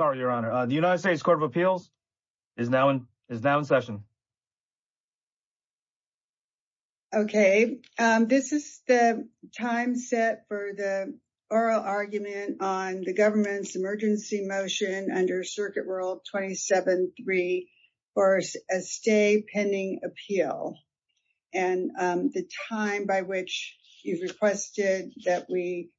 Sorry, Your Honor. The United States Court of Appeals is now in session. Okay, this is the time set for the oral argument on the government's emergency motion under Circuit Rule 27-3 for a stay pending appeal. And the time by which you've requested that we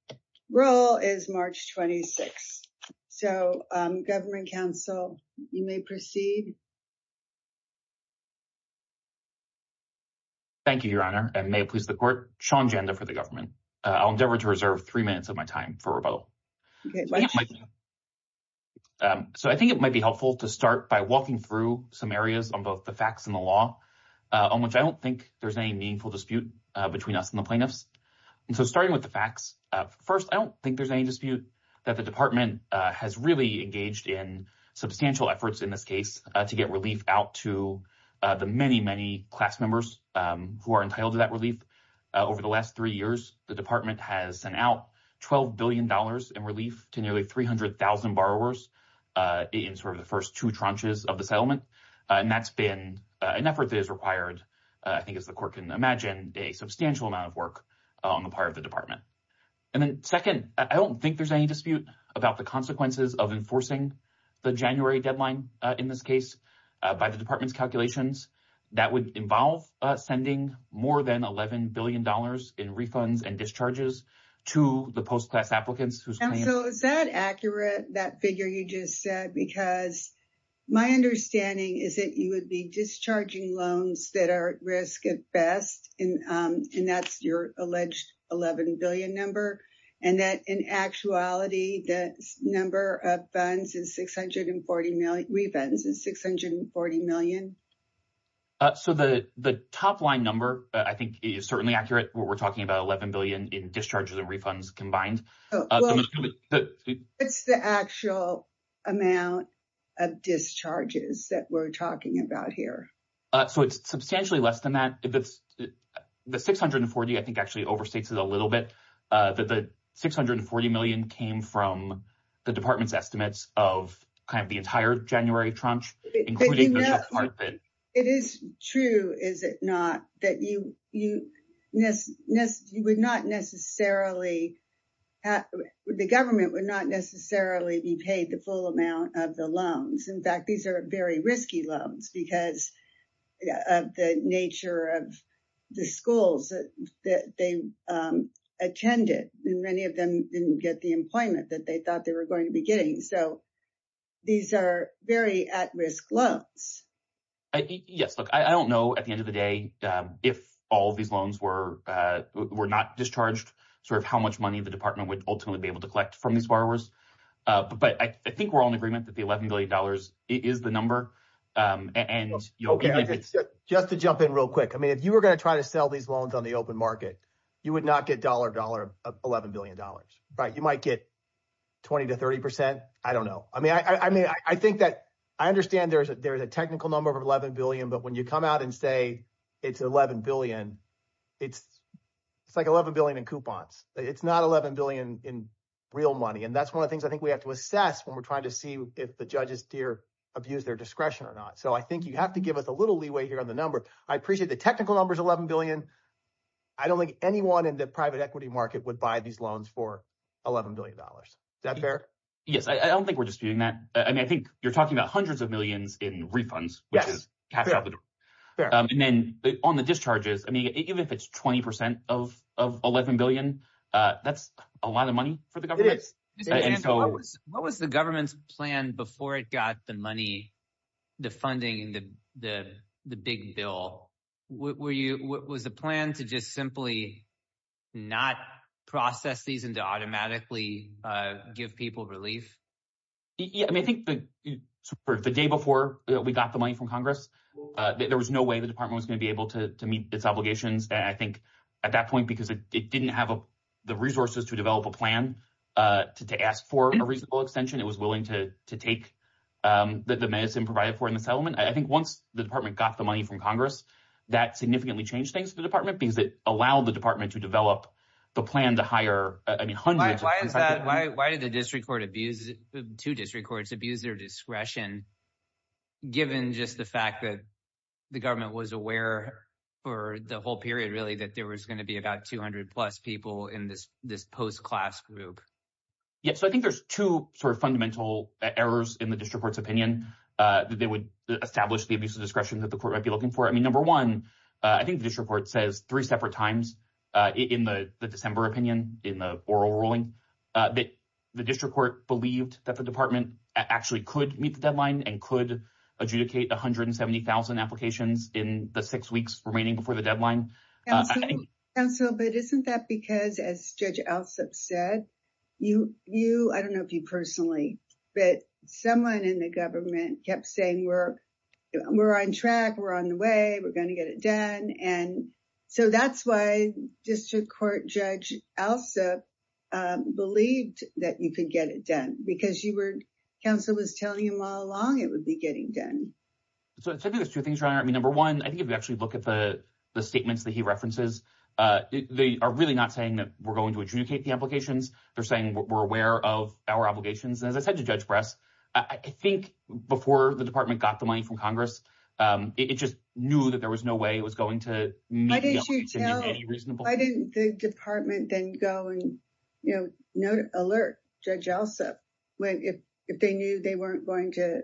roll is March 26. So, Government Counsel, you may proceed. Thank you, Your Honor, and may it please the Court. Sean Janda for the government. I'll endeavor to reserve three minutes of my time for rebuttal. So I think it might be helpful to start by walking through some areas on both the facts and the law, on which I don't think there's any meaningful dispute between us and the plaintiffs. And so starting with the facts, first, I don't think there's any dispute that the department has really engaged in substantial efforts in this case to get relief out to the many, many class members who are entitled to that relief. Over the last three years, the department has sent out $12 billion in relief to nearly 300,000 borrowers in sort of the first two tranches of the settlement. And that's been an effort that is required, I think, as the Court can imagine, a substantial amount of work on the part of the department. And then second, I don't think there's any dispute about the consequences of enforcing the January deadline in this case by the department's calculations that would involve sending more than $11 billion in refunds and discharges to the post-class applicants. And so is that accurate, that figure you just said, because my understanding is that you would be discharging loans that are at risk at best, and that's your alleged $11 billion number, and that in actuality, the number of refunds is $640 million? So the top-line number, I think, is certainly accurate when we're talking about $11 billion in discharges and refunds combined. What's the actual amount of discharges that we're talking about here? So it's substantially less than that. The $640, I think, actually overstates it a little bit. The $640 million came from the department's estimates of kind of the entire January tranche. It is true, is it not, that you would not necessarily – the government would not necessarily be paid the full amount of the loans. In fact, these are very risky loans because of the nature of the schools that they attended. And many of them didn't get the employment that they thought they were going to be getting. So these are very at-risk loans. Yes, look, I don't know, at the end of the day, if all of these loans were not discharged, sort of how much money the department would ultimately be able to collect from these borrowers. But I think we're all in agreement that the $11 billion is the number. Just to jump in real quick. I mean, if you were going to try to sell these loans on the open market, you would not get $1, $11 billion. You might get 20% to 30%. I don't know. I mean, I think that – I understand there's a technical number of $11 billion, but when you come out and say it's $11 billion, it's like $11 billion in coupons. It's not $11 billion in real money, and that's one of the things I think we have to assess when we're trying to see if the judges abuse their discretion or not. So I think you have to give us a little leeway here on the number. I appreciate the technical number is $11 billion. I don't think anyone in the private equity market would buy these loans for $11 billion. Is that fair? Yes, I don't think we're disputing that. I mean, I think you're talking about hundreds of millions in refunds, which is cash out the door. And then on the discharges, I mean even if it's 20% of $11 billion, that's a lot of money for the government. It is. What was the government's plan before it got the money, the funding, the big bill? Was the plan to just simply not process these and to automatically give people relief? I think the day before we got the money from Congress, there was no way the department was going to be able to meet its obligations. I think at that point, because it didn't have the resources to develop a plan to ask for a reasonable extension, it was willing to take the medicine provided for in the settlement. I think once the department got the money from Congress, that significantly changed things for the department because it allowed the department to develop the plan to hire hundreds of people. Why did the two district courts abuse their discretion given just the fact that the government was aware for the whole period really that there was going to be about 200-plus people in this post-class group? Yes, so I think there's two sort of fundamental errors in the district court's opinion that they would establish the abuse of discretion that the court might be looking for. Number one, I think the district court says three separate times in the December opinion in the oral ruling that the district court believed that the department actually could meet the deadline and could adjudicate 170,000 applications in the six weeks remaining before the deadline. Counsel, but isn't that because, as Judge Alsup said, you, I don't know if you personally, but someone in the government kept saying we're on track, we're on the way, we're going to get it done. And so that's why district court Judge Alsup believed that you could get it done because you were, counsel was telling him all along it would be getting done. So I think there's two things, Your Honor. I mean, number one, I think if you actually look at the statements that he references, they are really not saying that we're going to adjudicate the applications. They're saying we're aware of our obligations. And as I said to Judge Bress, I think before the department got the money from Congress, it just knew that there was no way it was going to meet the deadline. Why didn't the department then go and alert Judge Alsup if they knew they weren't going to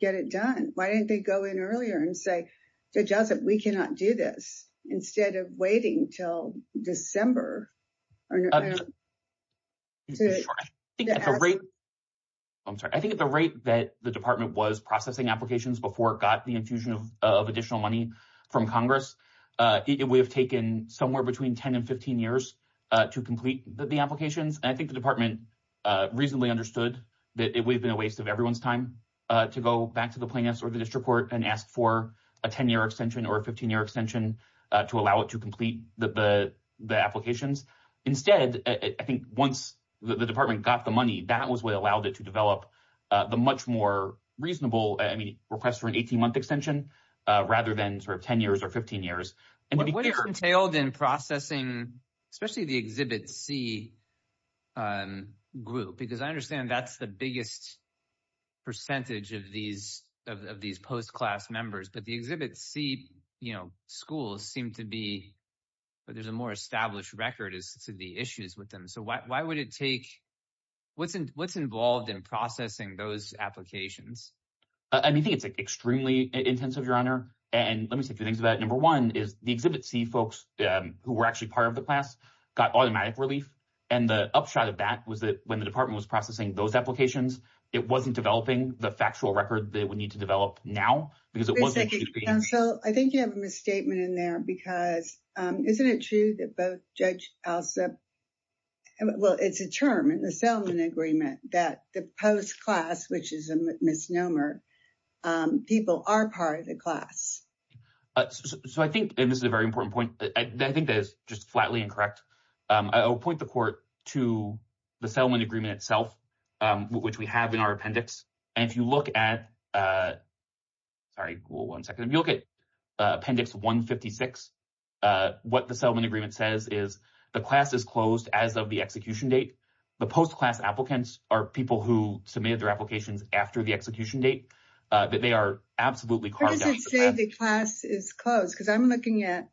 get it done? Why didn't they go in earlier and say, Judge Alsup, we cannot do this, instead of waiting until December? I'm sorry, I think at the rate that the department was processing applications before it got the infusion of additional money from Congress, it would have taken somewhere between 10 and 15 years to complete the applications. And I think the department reasonably understood that it would have been a waste of everyone's time to go back to the plaintiffs or the district court and ask for a 10-year extension or a 15-year extension to allow it to complete the applications. Instead, I think once the department got the money, that was what allowed it to develop the much more reasonable request for an 18-month extension rather than sort of 10 years or 15 years. What is entailed in processing, especially the Exhibit C group, because I understand that's the biggest percentage of these post-class members, but the Exhibit C schools seem to be – there's a more established record as to the issues with them. So why would it take – what's involved in processing those applications? I think it's extremely intensive, Your Honor. And let me say a few things about it. Number one is the Exhibit C folks who were actually part of the class got automatic relief. And the upshot of that was that when the department was processing those applications, it wasn't developing the factual record that it would need to develop now because it wasn't – Counsel, I think you have a misstatement in there because isn't it true that both Judge Alsop – well, it's a term, a settlement agreement, that the post-class, which is a misnomer, people are part of the class? So I think – and this is a very important point – I think that is just flatly incorrect. I will point the court to the settlement agreement itself, which we have in our appendix. And if you look at – sorry. One second. If you look at appendix 156, what the settlement agreement says is the class is closed as of the execution date. The post-class applicants are people who submitted their applications after the execution date. They are absolutely carved out. How does it say the class is closed? Because I'm looking at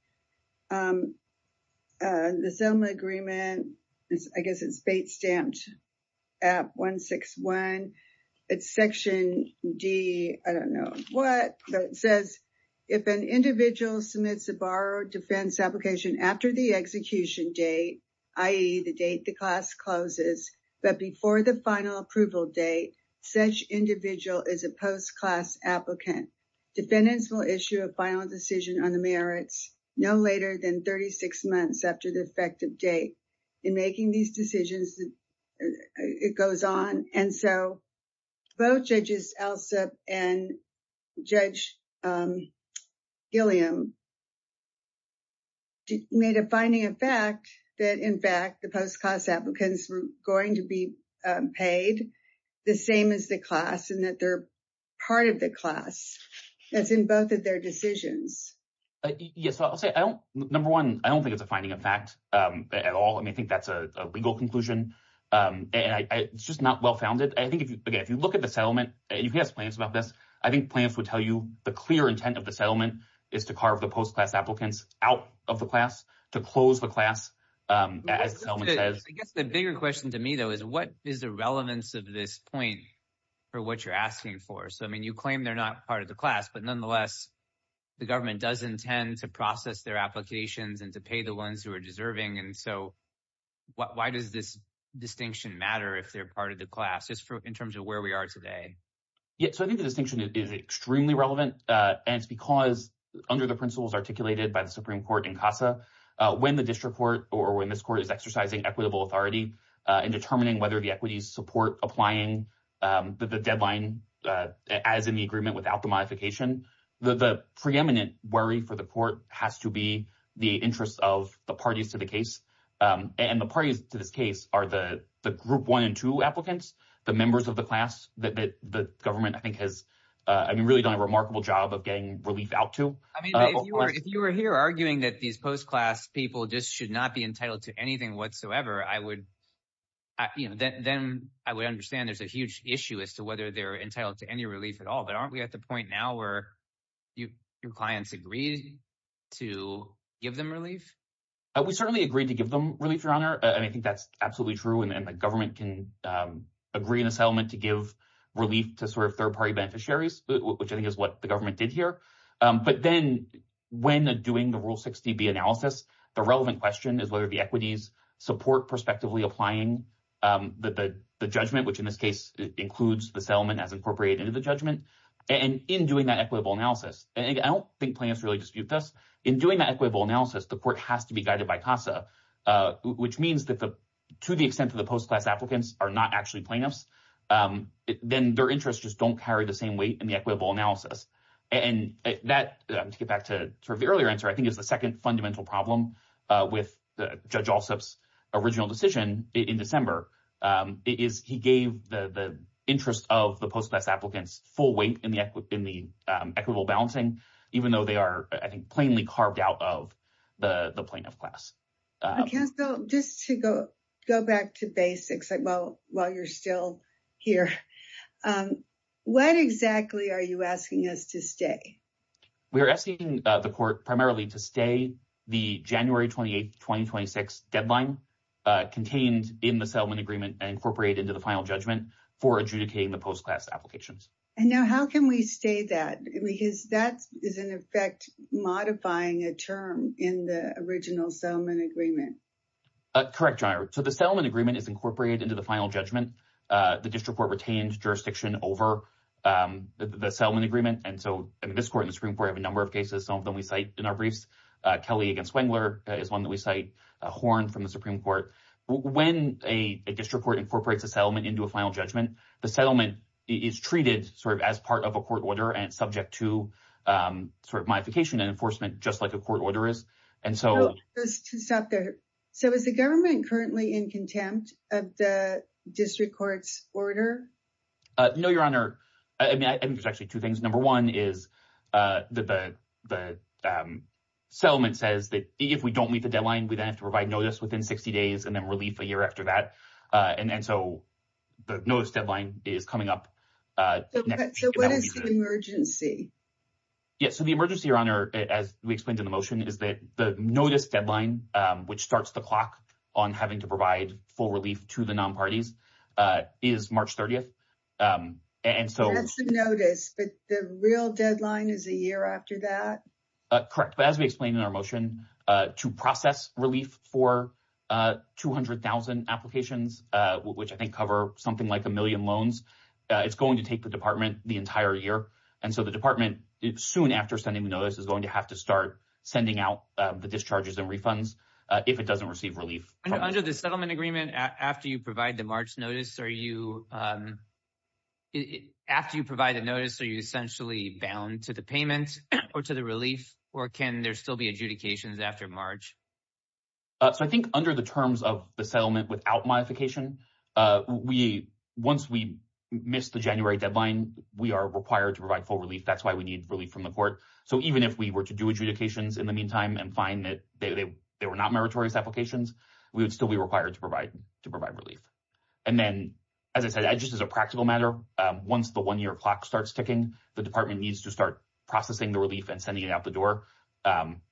the settlement agreement. I guess it's bait-stamped at 161. It's section D – I don't know what. It says, if an individual submits a borrowed defense application after the execution date, i.e., the date the class closes, but before the final approval date, such individual is a post-class applicant. Defendants will issue a final decision on the merits no later than 36 months after the effective date. In making these decisions, it goes on. And so both Judges Elsup and Judge Gilliam made a finding of fact that, in fact, the post-class applicants were going to be paid the same as the class and that they're part of the class. That's in both of their decisions. Yes. I'll say, number one, I don't think it's a finding of fact at all. I think that's a legal conclusion. It's just not well-founded. I think, again, if you look at the settlement, and you can ask plans about this, I think plans would tell you the clear intent of the settlement is to carve the post-class applicants out of the class, to close the class, as the settlement says. I guess the bigger question to me, though, is what is the relevance of this point for what you're asking for? So, I mean, you claim they're not part of the class, but nonetheless, the government does intend to process their applications and to pay the ones who are deserving. And so why does this distinction matter if they're part of the class, just in terms of where we are today? Yeah, so I think the distinction is extremely relevant, and it's because, under the principles articulated by the Supreme Court in CASA, when the district court or when this court is exercising equitable authority in determining whether the equities support applying the deadline as in the agreement without the modification, the preeminent worry for the court has to be the interest of the parties to the case. And the parties to this case are the group one and two applicants, the members of the class that the government, I think, has really done a remarkable job of getting relief out to. I mean, if you were here arguing that these post-class people just should not be entitled to anything whatsoever, I would – then I would understand there's a huge issue as to whether they're entitled to any relief at all. But aren't we at the point now where your clients agree to give them relief? We certainly agree to give them relief, Your Honor, and I think that's absolutely true. And the government can agree in a settlement to give relief to sort of third-party beneficiaries, which I think is what the government did here. But then when doing the Rule 60B analysis, the relevant question is whether the equities support prospectively applying the judgment, which in this case includes the settlement as incorporated into the judgment. And in doing that equitable analysis – and I don't think plaintiffs really dispute this – in doing that equitable analysis, the court has to be guided by CASA, which means that to the extent that the post-class applicants are not actually plaintiffs, then their interests just don't carry the same weight in the equitable analysis. And that, to get back to sort of the earlier answer, I think is the second fundamental problem with Judge Alsup's original decision in December. It is he gave the interest of the post-class applicants full weight in the equitable balancing, even though they are, I think, plainly carved out of the plaintiff class. Counsel, just to go back to basics while you're still here, what exactly are you asking us to stay? We are asking the court primarily to stay the January 28, 2026 deadline contained in the settlement agreement and incorporated into the final judgment for adjudicating the post-class applications. And now how can we stay that? Because that is, in effect, modifying a term in the original settlement agreement. Correct, John. So the settlement agreement is incorporated into the final judgment. The district court retained jurisdiction over the settlement agreement. And so this court and the Supreme Court have a number of cases. Some of them we cite in our briefs. Kelly against Wengler is one that we cite. Horn from the Supreme Court. When a district court incorporates a settlement into a final judgment, the settlement is treated sort of as part of a court order and subject to sort of modification and enforcement, just like a court order is. And so to stop there. So is the government currently in contempt of the district court's order? No, Your Honor. I mean, there's actually two things. Number one is that the settlement says that if we don't meet the deadline, we then have to provide notice within 60 days and then relief a year after that. And so the notice deadline is coming up. So what is the emergency? Yes. So the emergency, Your Honor, as we explained in the motion, is that the notice deadline, which starts the clock on having to provide full relief to the non parties is March 30th. And so notice, but the real deadline is a year after that. Correct. But as we explained in our motion to process relief for 200,000 applications, which I think cover something like a million loans, it's going to take the department the entire year. And so the department soon after sending the notice is going to have to start sending out the discharges and refunds if it doesn't receive relief under the settlement agreement. After you provide the March notice, are you. After you provide a notice, are you essentially bound to the payment or to the relief, or can there still be adjudications after March? So I think under the terms of the settlement without modification, we once we missed the January deadline, we are required to provide full relief. That's why we need relief from the court. So even if we were to do adjudications in the meantime and find that they were not meritorious applications, we would still be required to provide to provide relief. And then, as I said, I just as a practical matter, once the 1 year clock starts ticking, the department needs to start processing the relief and sending it out the door.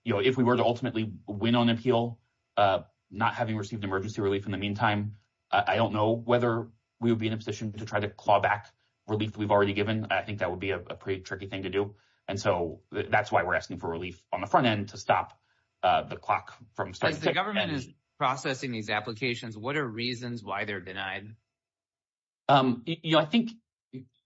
If we were to ultimately win on appeal, not having received emergency relief in the meantime, I don't know whether we would be in a position to try to claw back relief. We've already given. I think that would be a pretty tricky thing to do. And so that's why we're asking for relief on the front end to stop the clock from the government is processing these applications. What are reasons why they're denied? You know, I think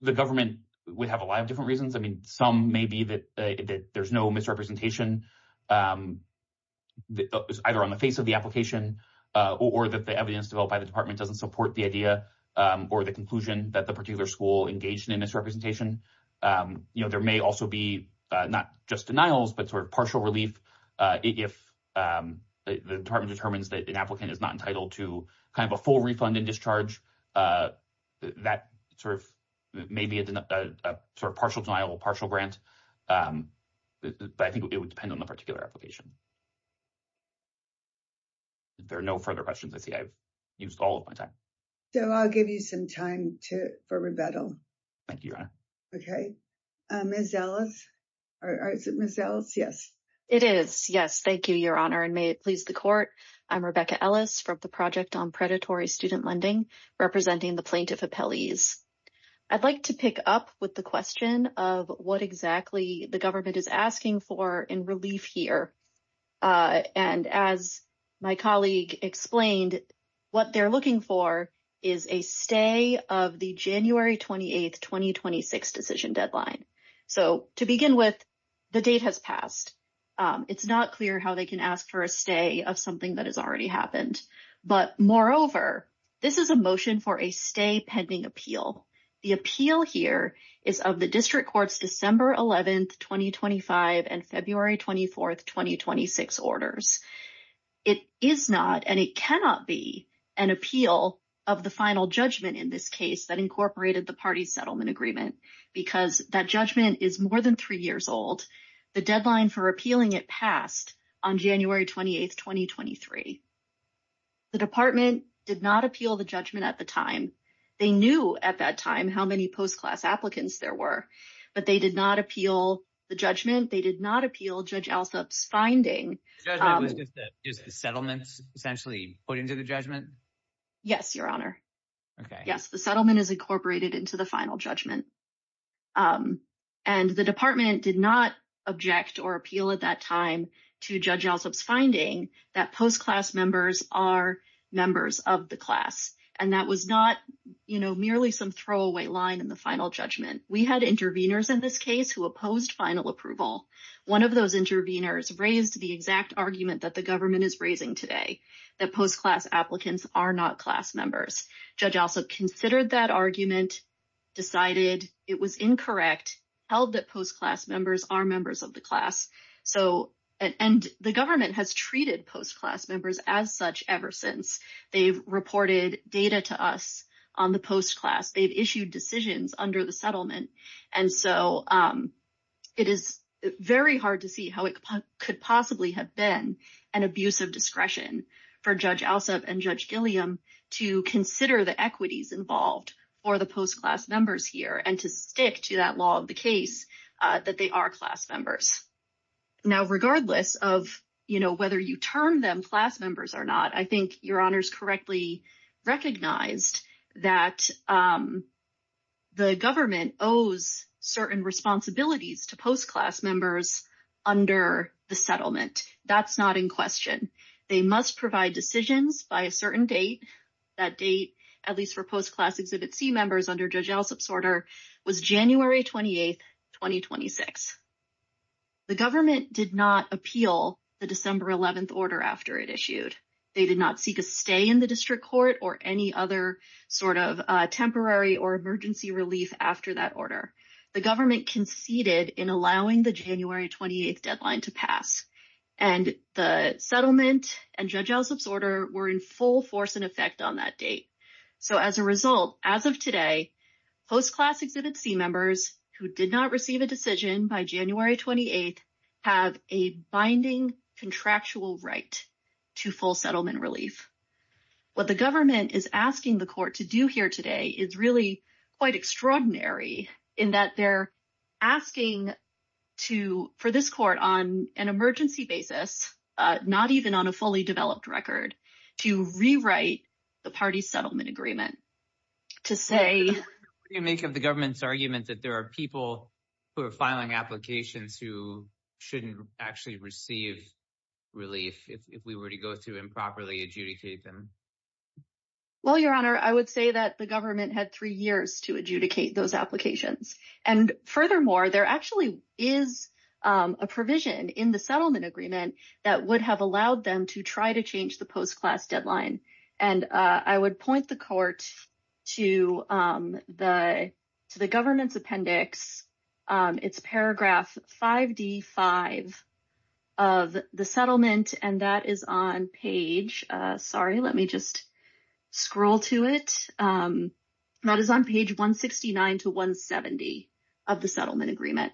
the government would have a lot of different reasons. I mean, some may be that there's no misrepresentation. Either on the face of the application, or that the evidence developed by the department doesn't support the idea or the conclusion that the particular school engaged in misrepresentation. You know, there may also be not just denials, but sort of partial relief if the department determines that an applicant is not entitled to kind of a full refund and discharge that sort of maybe a sort of partial denial partial grant. But I think it would depend on the particular application. There are no further questions I see I've used all of my time. So I'll give you some time to for rebuttal. Okay. Miss Ellis. Miss Ellis. Yes, it is. Yes. Thank you, Your Honor. And may it please the court. I'm Rebecca Ellis from the project on predatory student lending, representing the plaintiff appellees. I'd like to pick up with the question of what exactly the government is asking for in relief here. And as my colleague explained what they're looking for is a stay of the January 28 2026 decision deadline. So to begin with, the date has passed. It's not clear how they can ask for a stay of something that has already happened. But moreover, this is a motion for a stay pending appeal. The appeal here is of the district courts December 11 2025 and February 24 2026 orders. It is not and it cannot be an appeal of the final judgment in this case that incorporated the party settlement agreement because that judgment is more than three years old. The deadline for appealing it passed on January 28 2023. The department did not appeal the judgment at the time. They knew at that time how many post-class applicants there were, but they did not appeal the judgment. They did not appeal judge. The judgment was that is the settlements essentially put into the judgment. Yes, your honor. Okay. Yes, the settlement is incorporated into the final judgment and the department did not object or appeal at that time to judge. One of those intervenors raised the exact argument that the government is raising today that post-class applicants are not class members judge also considered that argument decided it was incorrect held that post-class members are members of the class. So and the government has treated post-class members as such ever since they've reported data to us on the post-class. They've issued decisions under the settlement. And so it is very hard to see how it could possibly have been an abuse of discretion for judge also and judge Gilliam to consider the equities involved for the post-class members here and to stick to that law of the case that they are class members. Now regardless of you know, whether you turn them class members or not, I think your honors correctly recognized that the government owes certain responsibilities to post-class members under the settlement. That's not in question. They must provide decisions by a certain date that date at least for post-class exhibit see members under judge else. Absorber was January 28th, 2026. The government did not appeal the December 11th order after it issued. They did not seek a stay in the district court or any other sort of temporary or emergency relief after that order. The government conceded in allowing the January 28th deadline to pass and the settlement and judge else absorber were in full force and effect on that date. So as a result, as of today, post-class exhibit see members who did not receive a decision by January 28th have a binding contractual right to full settlement relief. What the government is asking the court to do here today is really quite extraordinary in that they're asking to for this court on an emergency basis, not even on a fully developed record to rewrite the party settlement agreement to say you make of the government's argument that there are people who are filing applications who shouldn't actually receive relief. If we were to go through and properly adjudicate them. Well, your honor, I would say that the government had three years to adjudicate those applications. And furthermore, there actually is a provision in the settlement agreement that would have allowed them to try to change the post-class deadline. And I would point the court to the to the government's appendix. It's paragraph 5D5 of the settlement and that is on page. Sorry, let me just scroll to it. That is on page 169 to 170 of the settlement agreement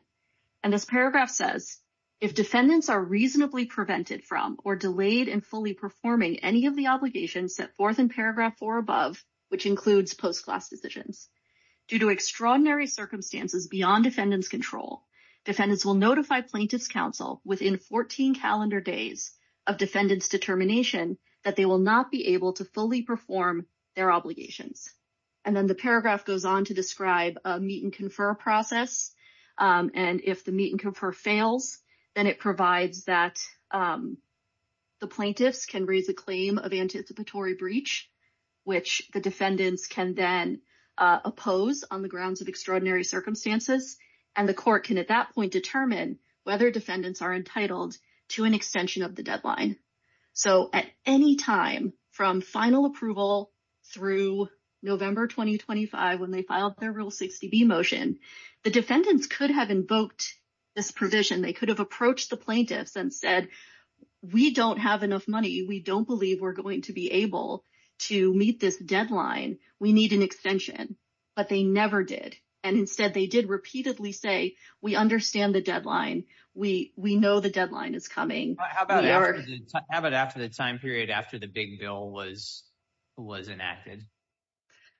and this paragraph says if defendants are reasonably prevented from or delayed and fully performing any of the obligations set forth in paragraph four above, which includes post-class decisions. Due to extraordinary circumstances beyond defendants control, defendants will notify plaintiffs counsel within 14 calendar days of defendants determination that they will not be able to fully perform their obligations. And then the paragraph goes on to describe a meet and confer process. And if the meet and confer fails, then it provides that. The plaintiffs can raise a claim of anticipatory breach, which the defendants can then oppose on the grounds of extraordinary circumstances and the court can at that point determine whether defendants are entitled to an extension of the deadline. So at any time from final approval through November 2025 when they filed their Rule 60B motion, the defendants could have invoked this provision. They could have approached the plaintiffs and said we don't have enough money. We don't believe we're going to be able to meet this deadline. We need an extension. But they never did. And instead they did repeatedly say we understand the deadline. We know the deadline is coming. How about after the time period after the big bill was enacted?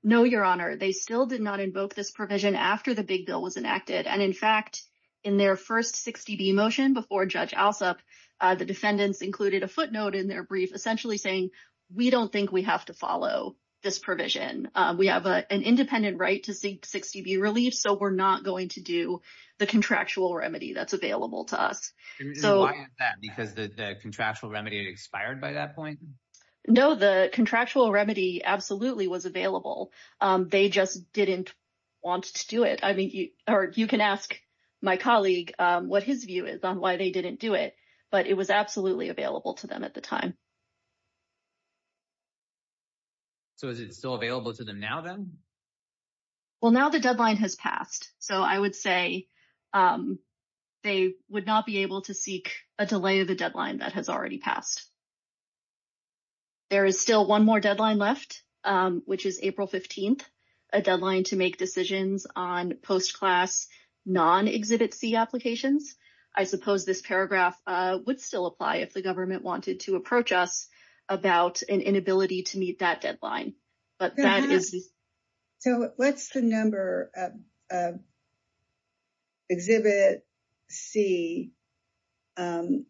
No, Your Honor. They still did not invoke this provision after the big bill was enacted. And in fact, in their first 60B motion before Judge Alsop, the defendants included a footnote in their brief essentially saying we don't think we have to follow this provision. We have an independent right to 60B relief, so we're not going to do the contractual remedy that's available to us. Why is that? Because the contractual remedy expired by that point? No, the contractual remedy absolutely was available. They just didn't want to do it. You can ask my colleague what his view is on why they didn't do it, but it was absolutely available to them at the time. So is it still available to them now then? Well, now the deadline has passed, so I would say they would not be able to seek a delay of the deadline that has already passed. There is still one more deadline left, which is April 15th, a deadline to make decisions on post-class non-Exhibit C applications. I suppose this paragraph would still apply if the government wanted to approach us about an inability to meet that deadline. So what's the number of Exhibit C debtors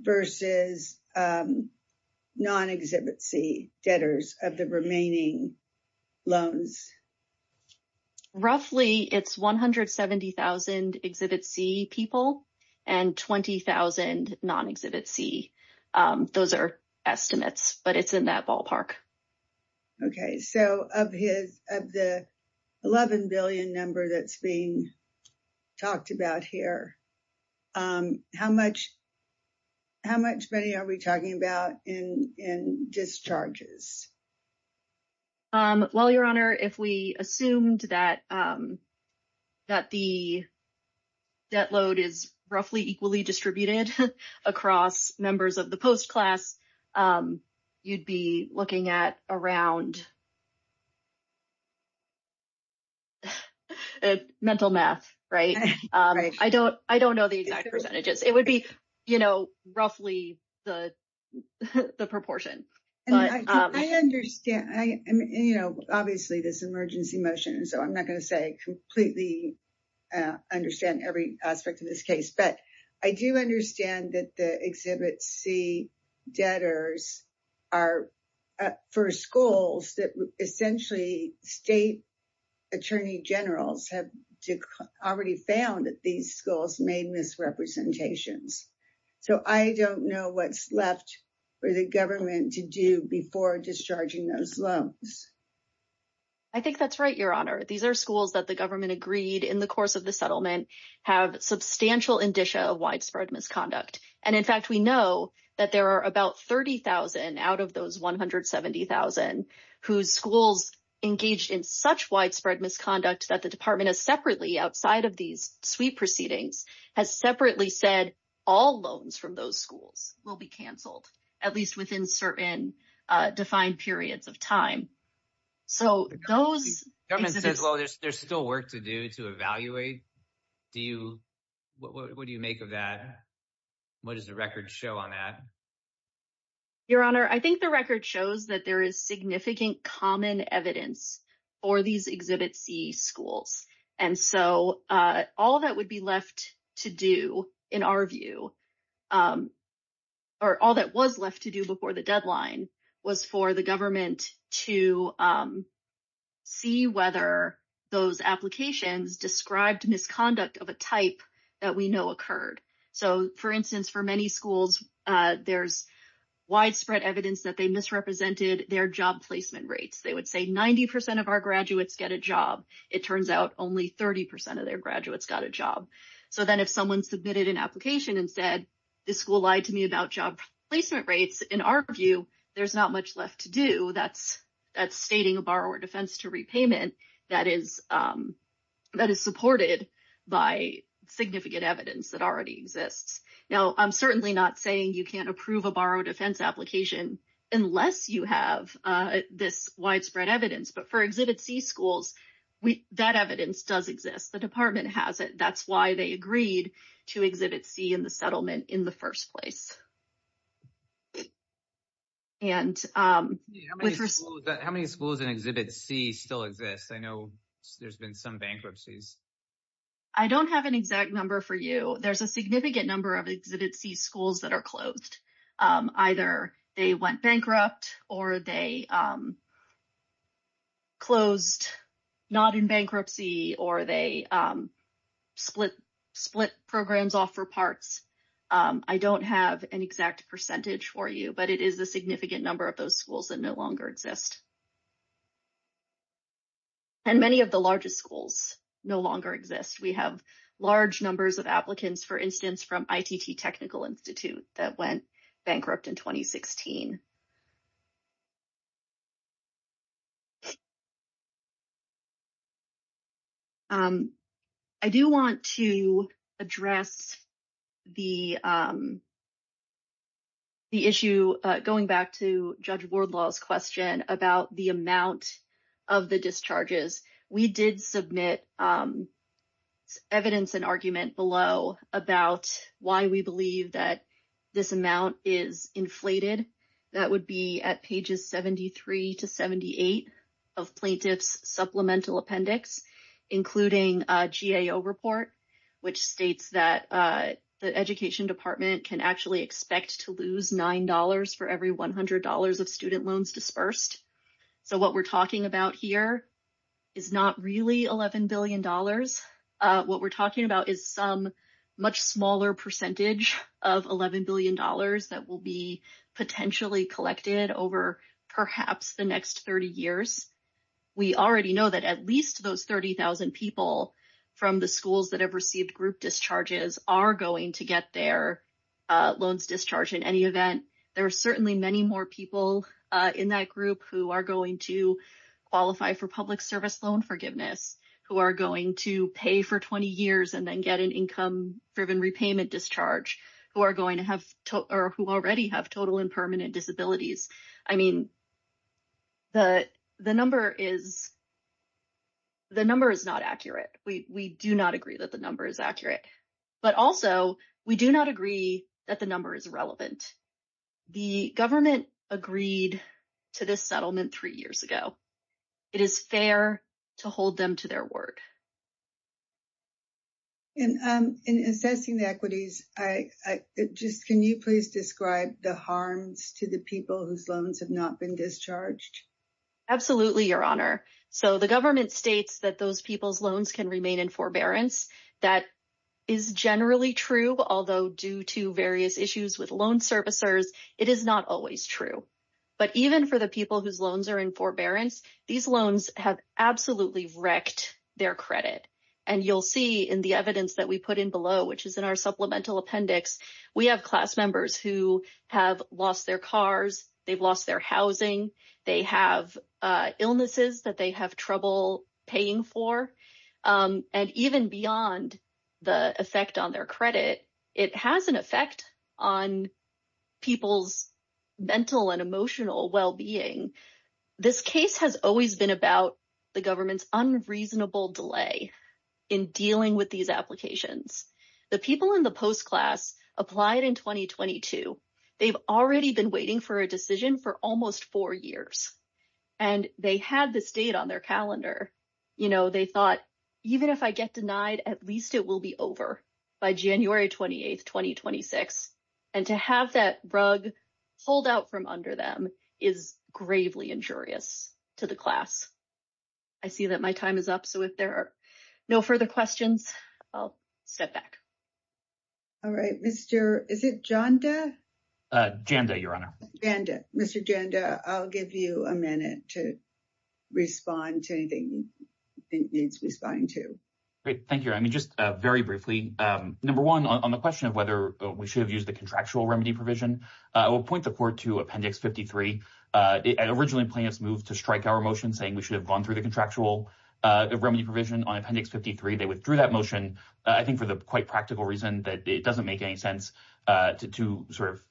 versus non-Exhibit C debtors of the remaining loans? Roughly, it's 170,000 Exhibit C people and 20,000 non-Exhibit C. Those are estimates, but it's in that ballpark. Okay, so of the $11 billion number that's being talked about here, how much money are we talking about in discharges? Well, Your Honor, if we assumed that the debt load is roughly equally distributed across members of the post-class, you'd be looking at around mental math, right? I don't know the exact percentages. It would be roughly the proportion. I understand. Obviously, this is an emergency motion, so I'm not going to completely understand every aspect of this case. But I do understand that the Exhibit C debtors are for schools that essentially state attorney generals have already found that these schools made misrepresentations. So I don't know what's left for the government to do before discharging those loans. I think that's right, Your Honor. These are schools that the government agreed in the course of the settlement have substantial indicia of widespread misconduct. And in fact, we know that there are about 30,000 out of those 170,000 whose schools engaged in such widespread misconduct that the department has separately, outside of these suite proceedings, has separately said all loans from those schools will be canceled, at least within certain defined periods of time. The government says, well, there's still work to do to evaluate. What do you make of that? What does the record show on that? Your Honor, I think the record shows that there is significant common evidence for these Exhibit C schools. And so all that would be left to do in our view, or all that was left to do before the deadline, was for the government to see whether those applications described misconduct of a type that we know occurred. So, for instance, for many schools, there's widespread evidence that they misrepresented their job placement rates. They would say 90% of our graduates get a job. It turns out only 30% of their graduates got a job. So then if someone submitted an application and said, this school lied to me about job placement rates, in our view, there's not much left to do. So that's stating a borrower defense to repayment that is supported by significant evidence that already exists. Now, I'm certainly not saying you can't approve a borrower defense application unless you have this widespread evidence. But for Exhibit C schools, that evidence does exist. The department has it. That's why they agreed to Exhibit C in the settlement in the first place. How many schools in Exhibit C still exist? I know there's been some bankruptcies. I don't have an exact number for you. There's a significant number of Exhibit C schools that are closed. Either they went bankrupt, or they closed not in bankruptcy, or they split programs off for parts. I don't have an exact percentage for you, but it is a significant number of those schools that no longer exist. And many of the largest schools no longer exist. We have large numbers of applicants, for instance, from ITT Technical Institute that went bankrupt in 2016. I do want to address the issue, going back to Judge Wardlaw's question about the amount of the discharges. We did submit evidence and argument below about why we believe that this amount is inflated. That would be at pages 73 to 78 of Plaintiff's Supplemental Appendix, including a GAO report, which states that the Education Department can actually expect to lose $9 for every $100 of student loans dispersed. So what we're talking about here is not really $11 billion. What we're talking about is some much smaller percentage of $11 billion that will be potentially collected over perhaps the next 30 years. We already know that at least those 30,000 people from the schools that have received group discharges are going to get their loans discharged in any event. There are certainly many more people in that group who are going to qualify for public service loan forgiveness, who are going to pay for 20 years and then get an income-driven repayment discharge, who already have total and permanent disabilities. I mean, the number is not accurate. We do not agree that the number is accurate. But also, we do not agree that the number is relevant. The government agreed to this settlement three years ago. It is fair to hold them to their word. In assessing the equities, can you please describe the harms to the people whose loans have not been discharged? Absolutely, Your Honor. So the government states that those people's loans can remain in forbearance. That is generally true, although due to various issues with loan servicers, it is not always true. But even for the people whose loans are in forbearance, these loans have absolutely wrecked their credit. And you'll see in the evidence that we put in below, which is in our supplemental appendix, we have class members who have lost their cars, they've lost their housing, they have illnesses that they have trouble paying for. And even beyond the effect on their credit, it has an effect on people's mental and emotional well-being. This case has always been about the government's unreasonable delay in dealing with these applications. The people in the post-class applied in 2022. They've already been waiting for a decision for almost four years. And they had this date on their calendar. You know, they thought, even if I get denied, at least it will be over by January 28, 2026. And to have that rug pulled out from under them is gravely injurious to the class. I see that my time is up, so if there are no further questions, I'll step back. All right, Mr. Is it Janda? Janda, Your Honor. Mr. Janda, I'll give you a minute to respond to anything you think needs responding to. Great, thank you. I mean, just very briefly, number one, on the question of whether we should have used the contractual remedy provision, I will point the court to Appendix 53. Originally, plaintiffs moved to strike our motion saying we should have gone through the contractual remedy provision on Appendix 53. They withdrew that motion, I think, for the quite practical reason that it doesn't make any sense to sort of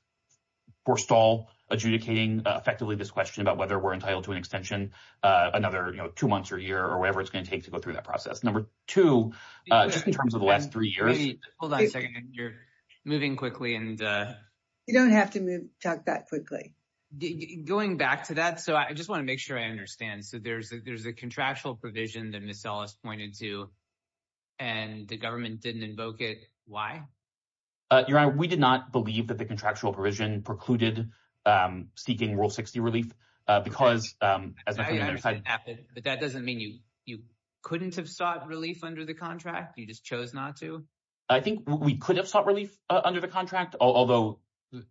forestall adjudicating effectively this question about whether we're entitled to an extension another two months or a year or whatever it's going to take to go through that process. Number two, just in terms of the last three years. Hold on a second. You're moving quickly. You don't have to talk that quickly. Going back to that, I just want to make sure I understand. There's a contractual provision that Ms. Ellis pointed to and the government didn't invoke it. Why? Your Honor, we did not believe that the contractual provision precluded seeking Rule 60 relief because, as I said. But that doesn't mean you couldn't have sought relief under the contract? You just chose not to? I think we could have sought relief under the contract, although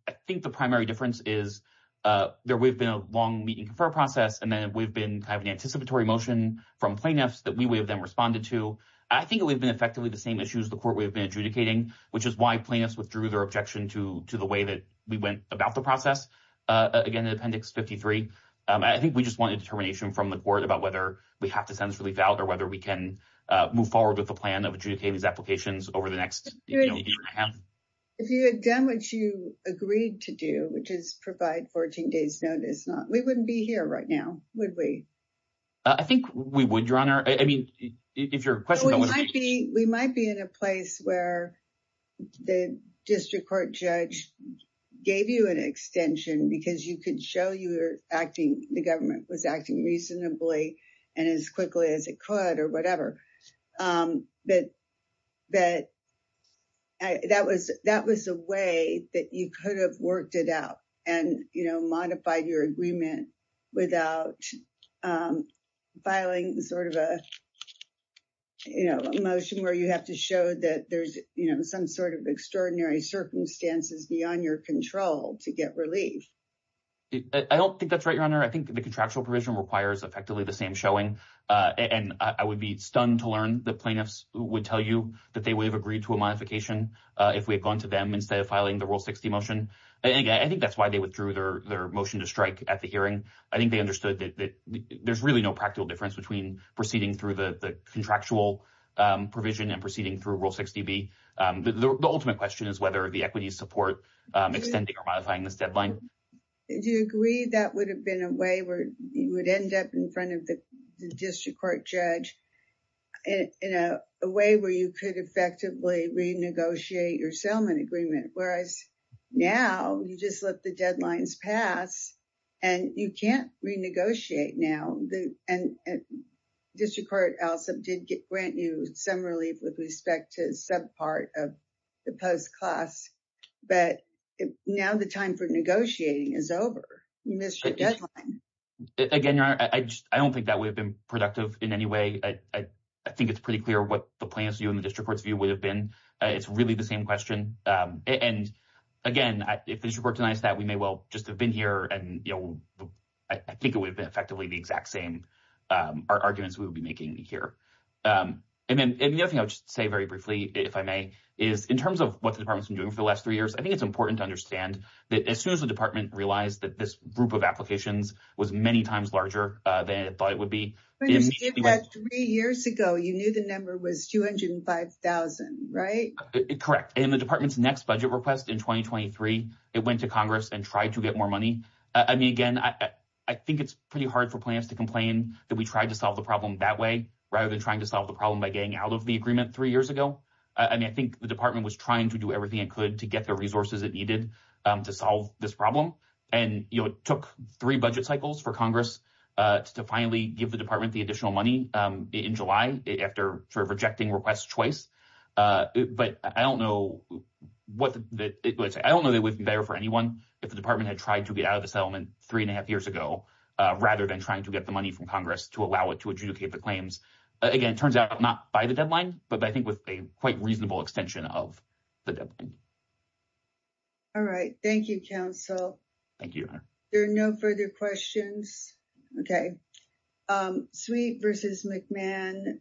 I think the primary difference is there would have been a long meeting for process. And then we've been kind of an anticipatory motion from plaintiffs that we would have then responded to. I think it would have been effectively the same issues the court would have been adjudicating, which is why plaintiffs withdrew their objection to the way that we went about the process. Again, in Appendix 53, I think we just wanted determination from the court about whether we have to send this relief out or whether we can move forward with the plan of adjudicating these applications over the next year and a half. If you had done what you agreed to do, which is provide 14 days notice, we wouldn't be here right now, would we? I think we would, Your Honor. We might be in a place where the district court judge gave you an extension because you could show the government was acting reasonably and as quickly as it could or whatever. But that was a way that you could have worked it out and modified your agreement without filing sort of a motion where you have to show that there's some sort of extraordinary circumstances beyond your control to get relief. I don't think that's right, Your Honor. I think the contractual provision requires effectively the same showing, and I would be stunned to learn that plaintiffs would tell you that they would have agreed to a modification if we had gone to them instead of filing the Rule 60 motion. I think that's why they withdrew their motion to strike at the hearing. I think they understood that there's really no practical difference between proceeding through the contractual provision and proceeding through Rule 60B. The ultimate question is whether the equities support extending or modifying this deadline. Do you agree that would have been a way where you would end up in front of the district court judge in a way where you could effectively renegotiate your settlement agreement, whereas now you just let the deadlines pass and you can't renegotiate now. District Court did grant you some relief with respect to some part of the post-class, but now the time for negotiating is over. You missed your deadline. Again, Your Honor, I don't think that would have been productive in any way. I think it's pretty clear what the plaintiff's view and the district court's view would have been. It's really the same question. Again, if the district court denies that, we may well just have been here and I think it would have been effectively the exact same arguments we would be making here. The other thing I would say very briefly, if I may, is in terms of what the department's been doing for the last three years, I think it's important to understand that as soon as the department realized that this group of applications was many times larger than it thought it would be. When you did that three years ago, you knew the number was 205,000, right? Correct. In the department's next budget request in 2023, it went to Congress and tried to get more money. I mean, again, I think it's pretty hard for plaintiffs to complain that we tried to solve the problem that way, rather than trying to solve the problem by getting out of the agreement three years ago. I mean, I think the department was trying to do everything it could to get the resources it needed to solve this problem, and it took three budget cycles for Congress to finally give the department the additional money in July after rejecting request choice. But I don't know that it would be better for anyone if the department had tried to get out of the settlement three and a half years ago, rather than trying to get the money from Congress to allow it to adjudicate the claims. Again, it turns out not by the deadline, but I think with a quite reasonable extension of the deadline. All right. Thank you, counsel. Thank you. There are no further questions. Okay. Sweet versus McMahon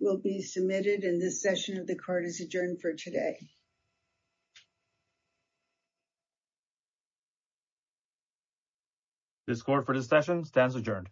will be submitted in this session of the court is adjourned for today. This court for this session stands adjourned.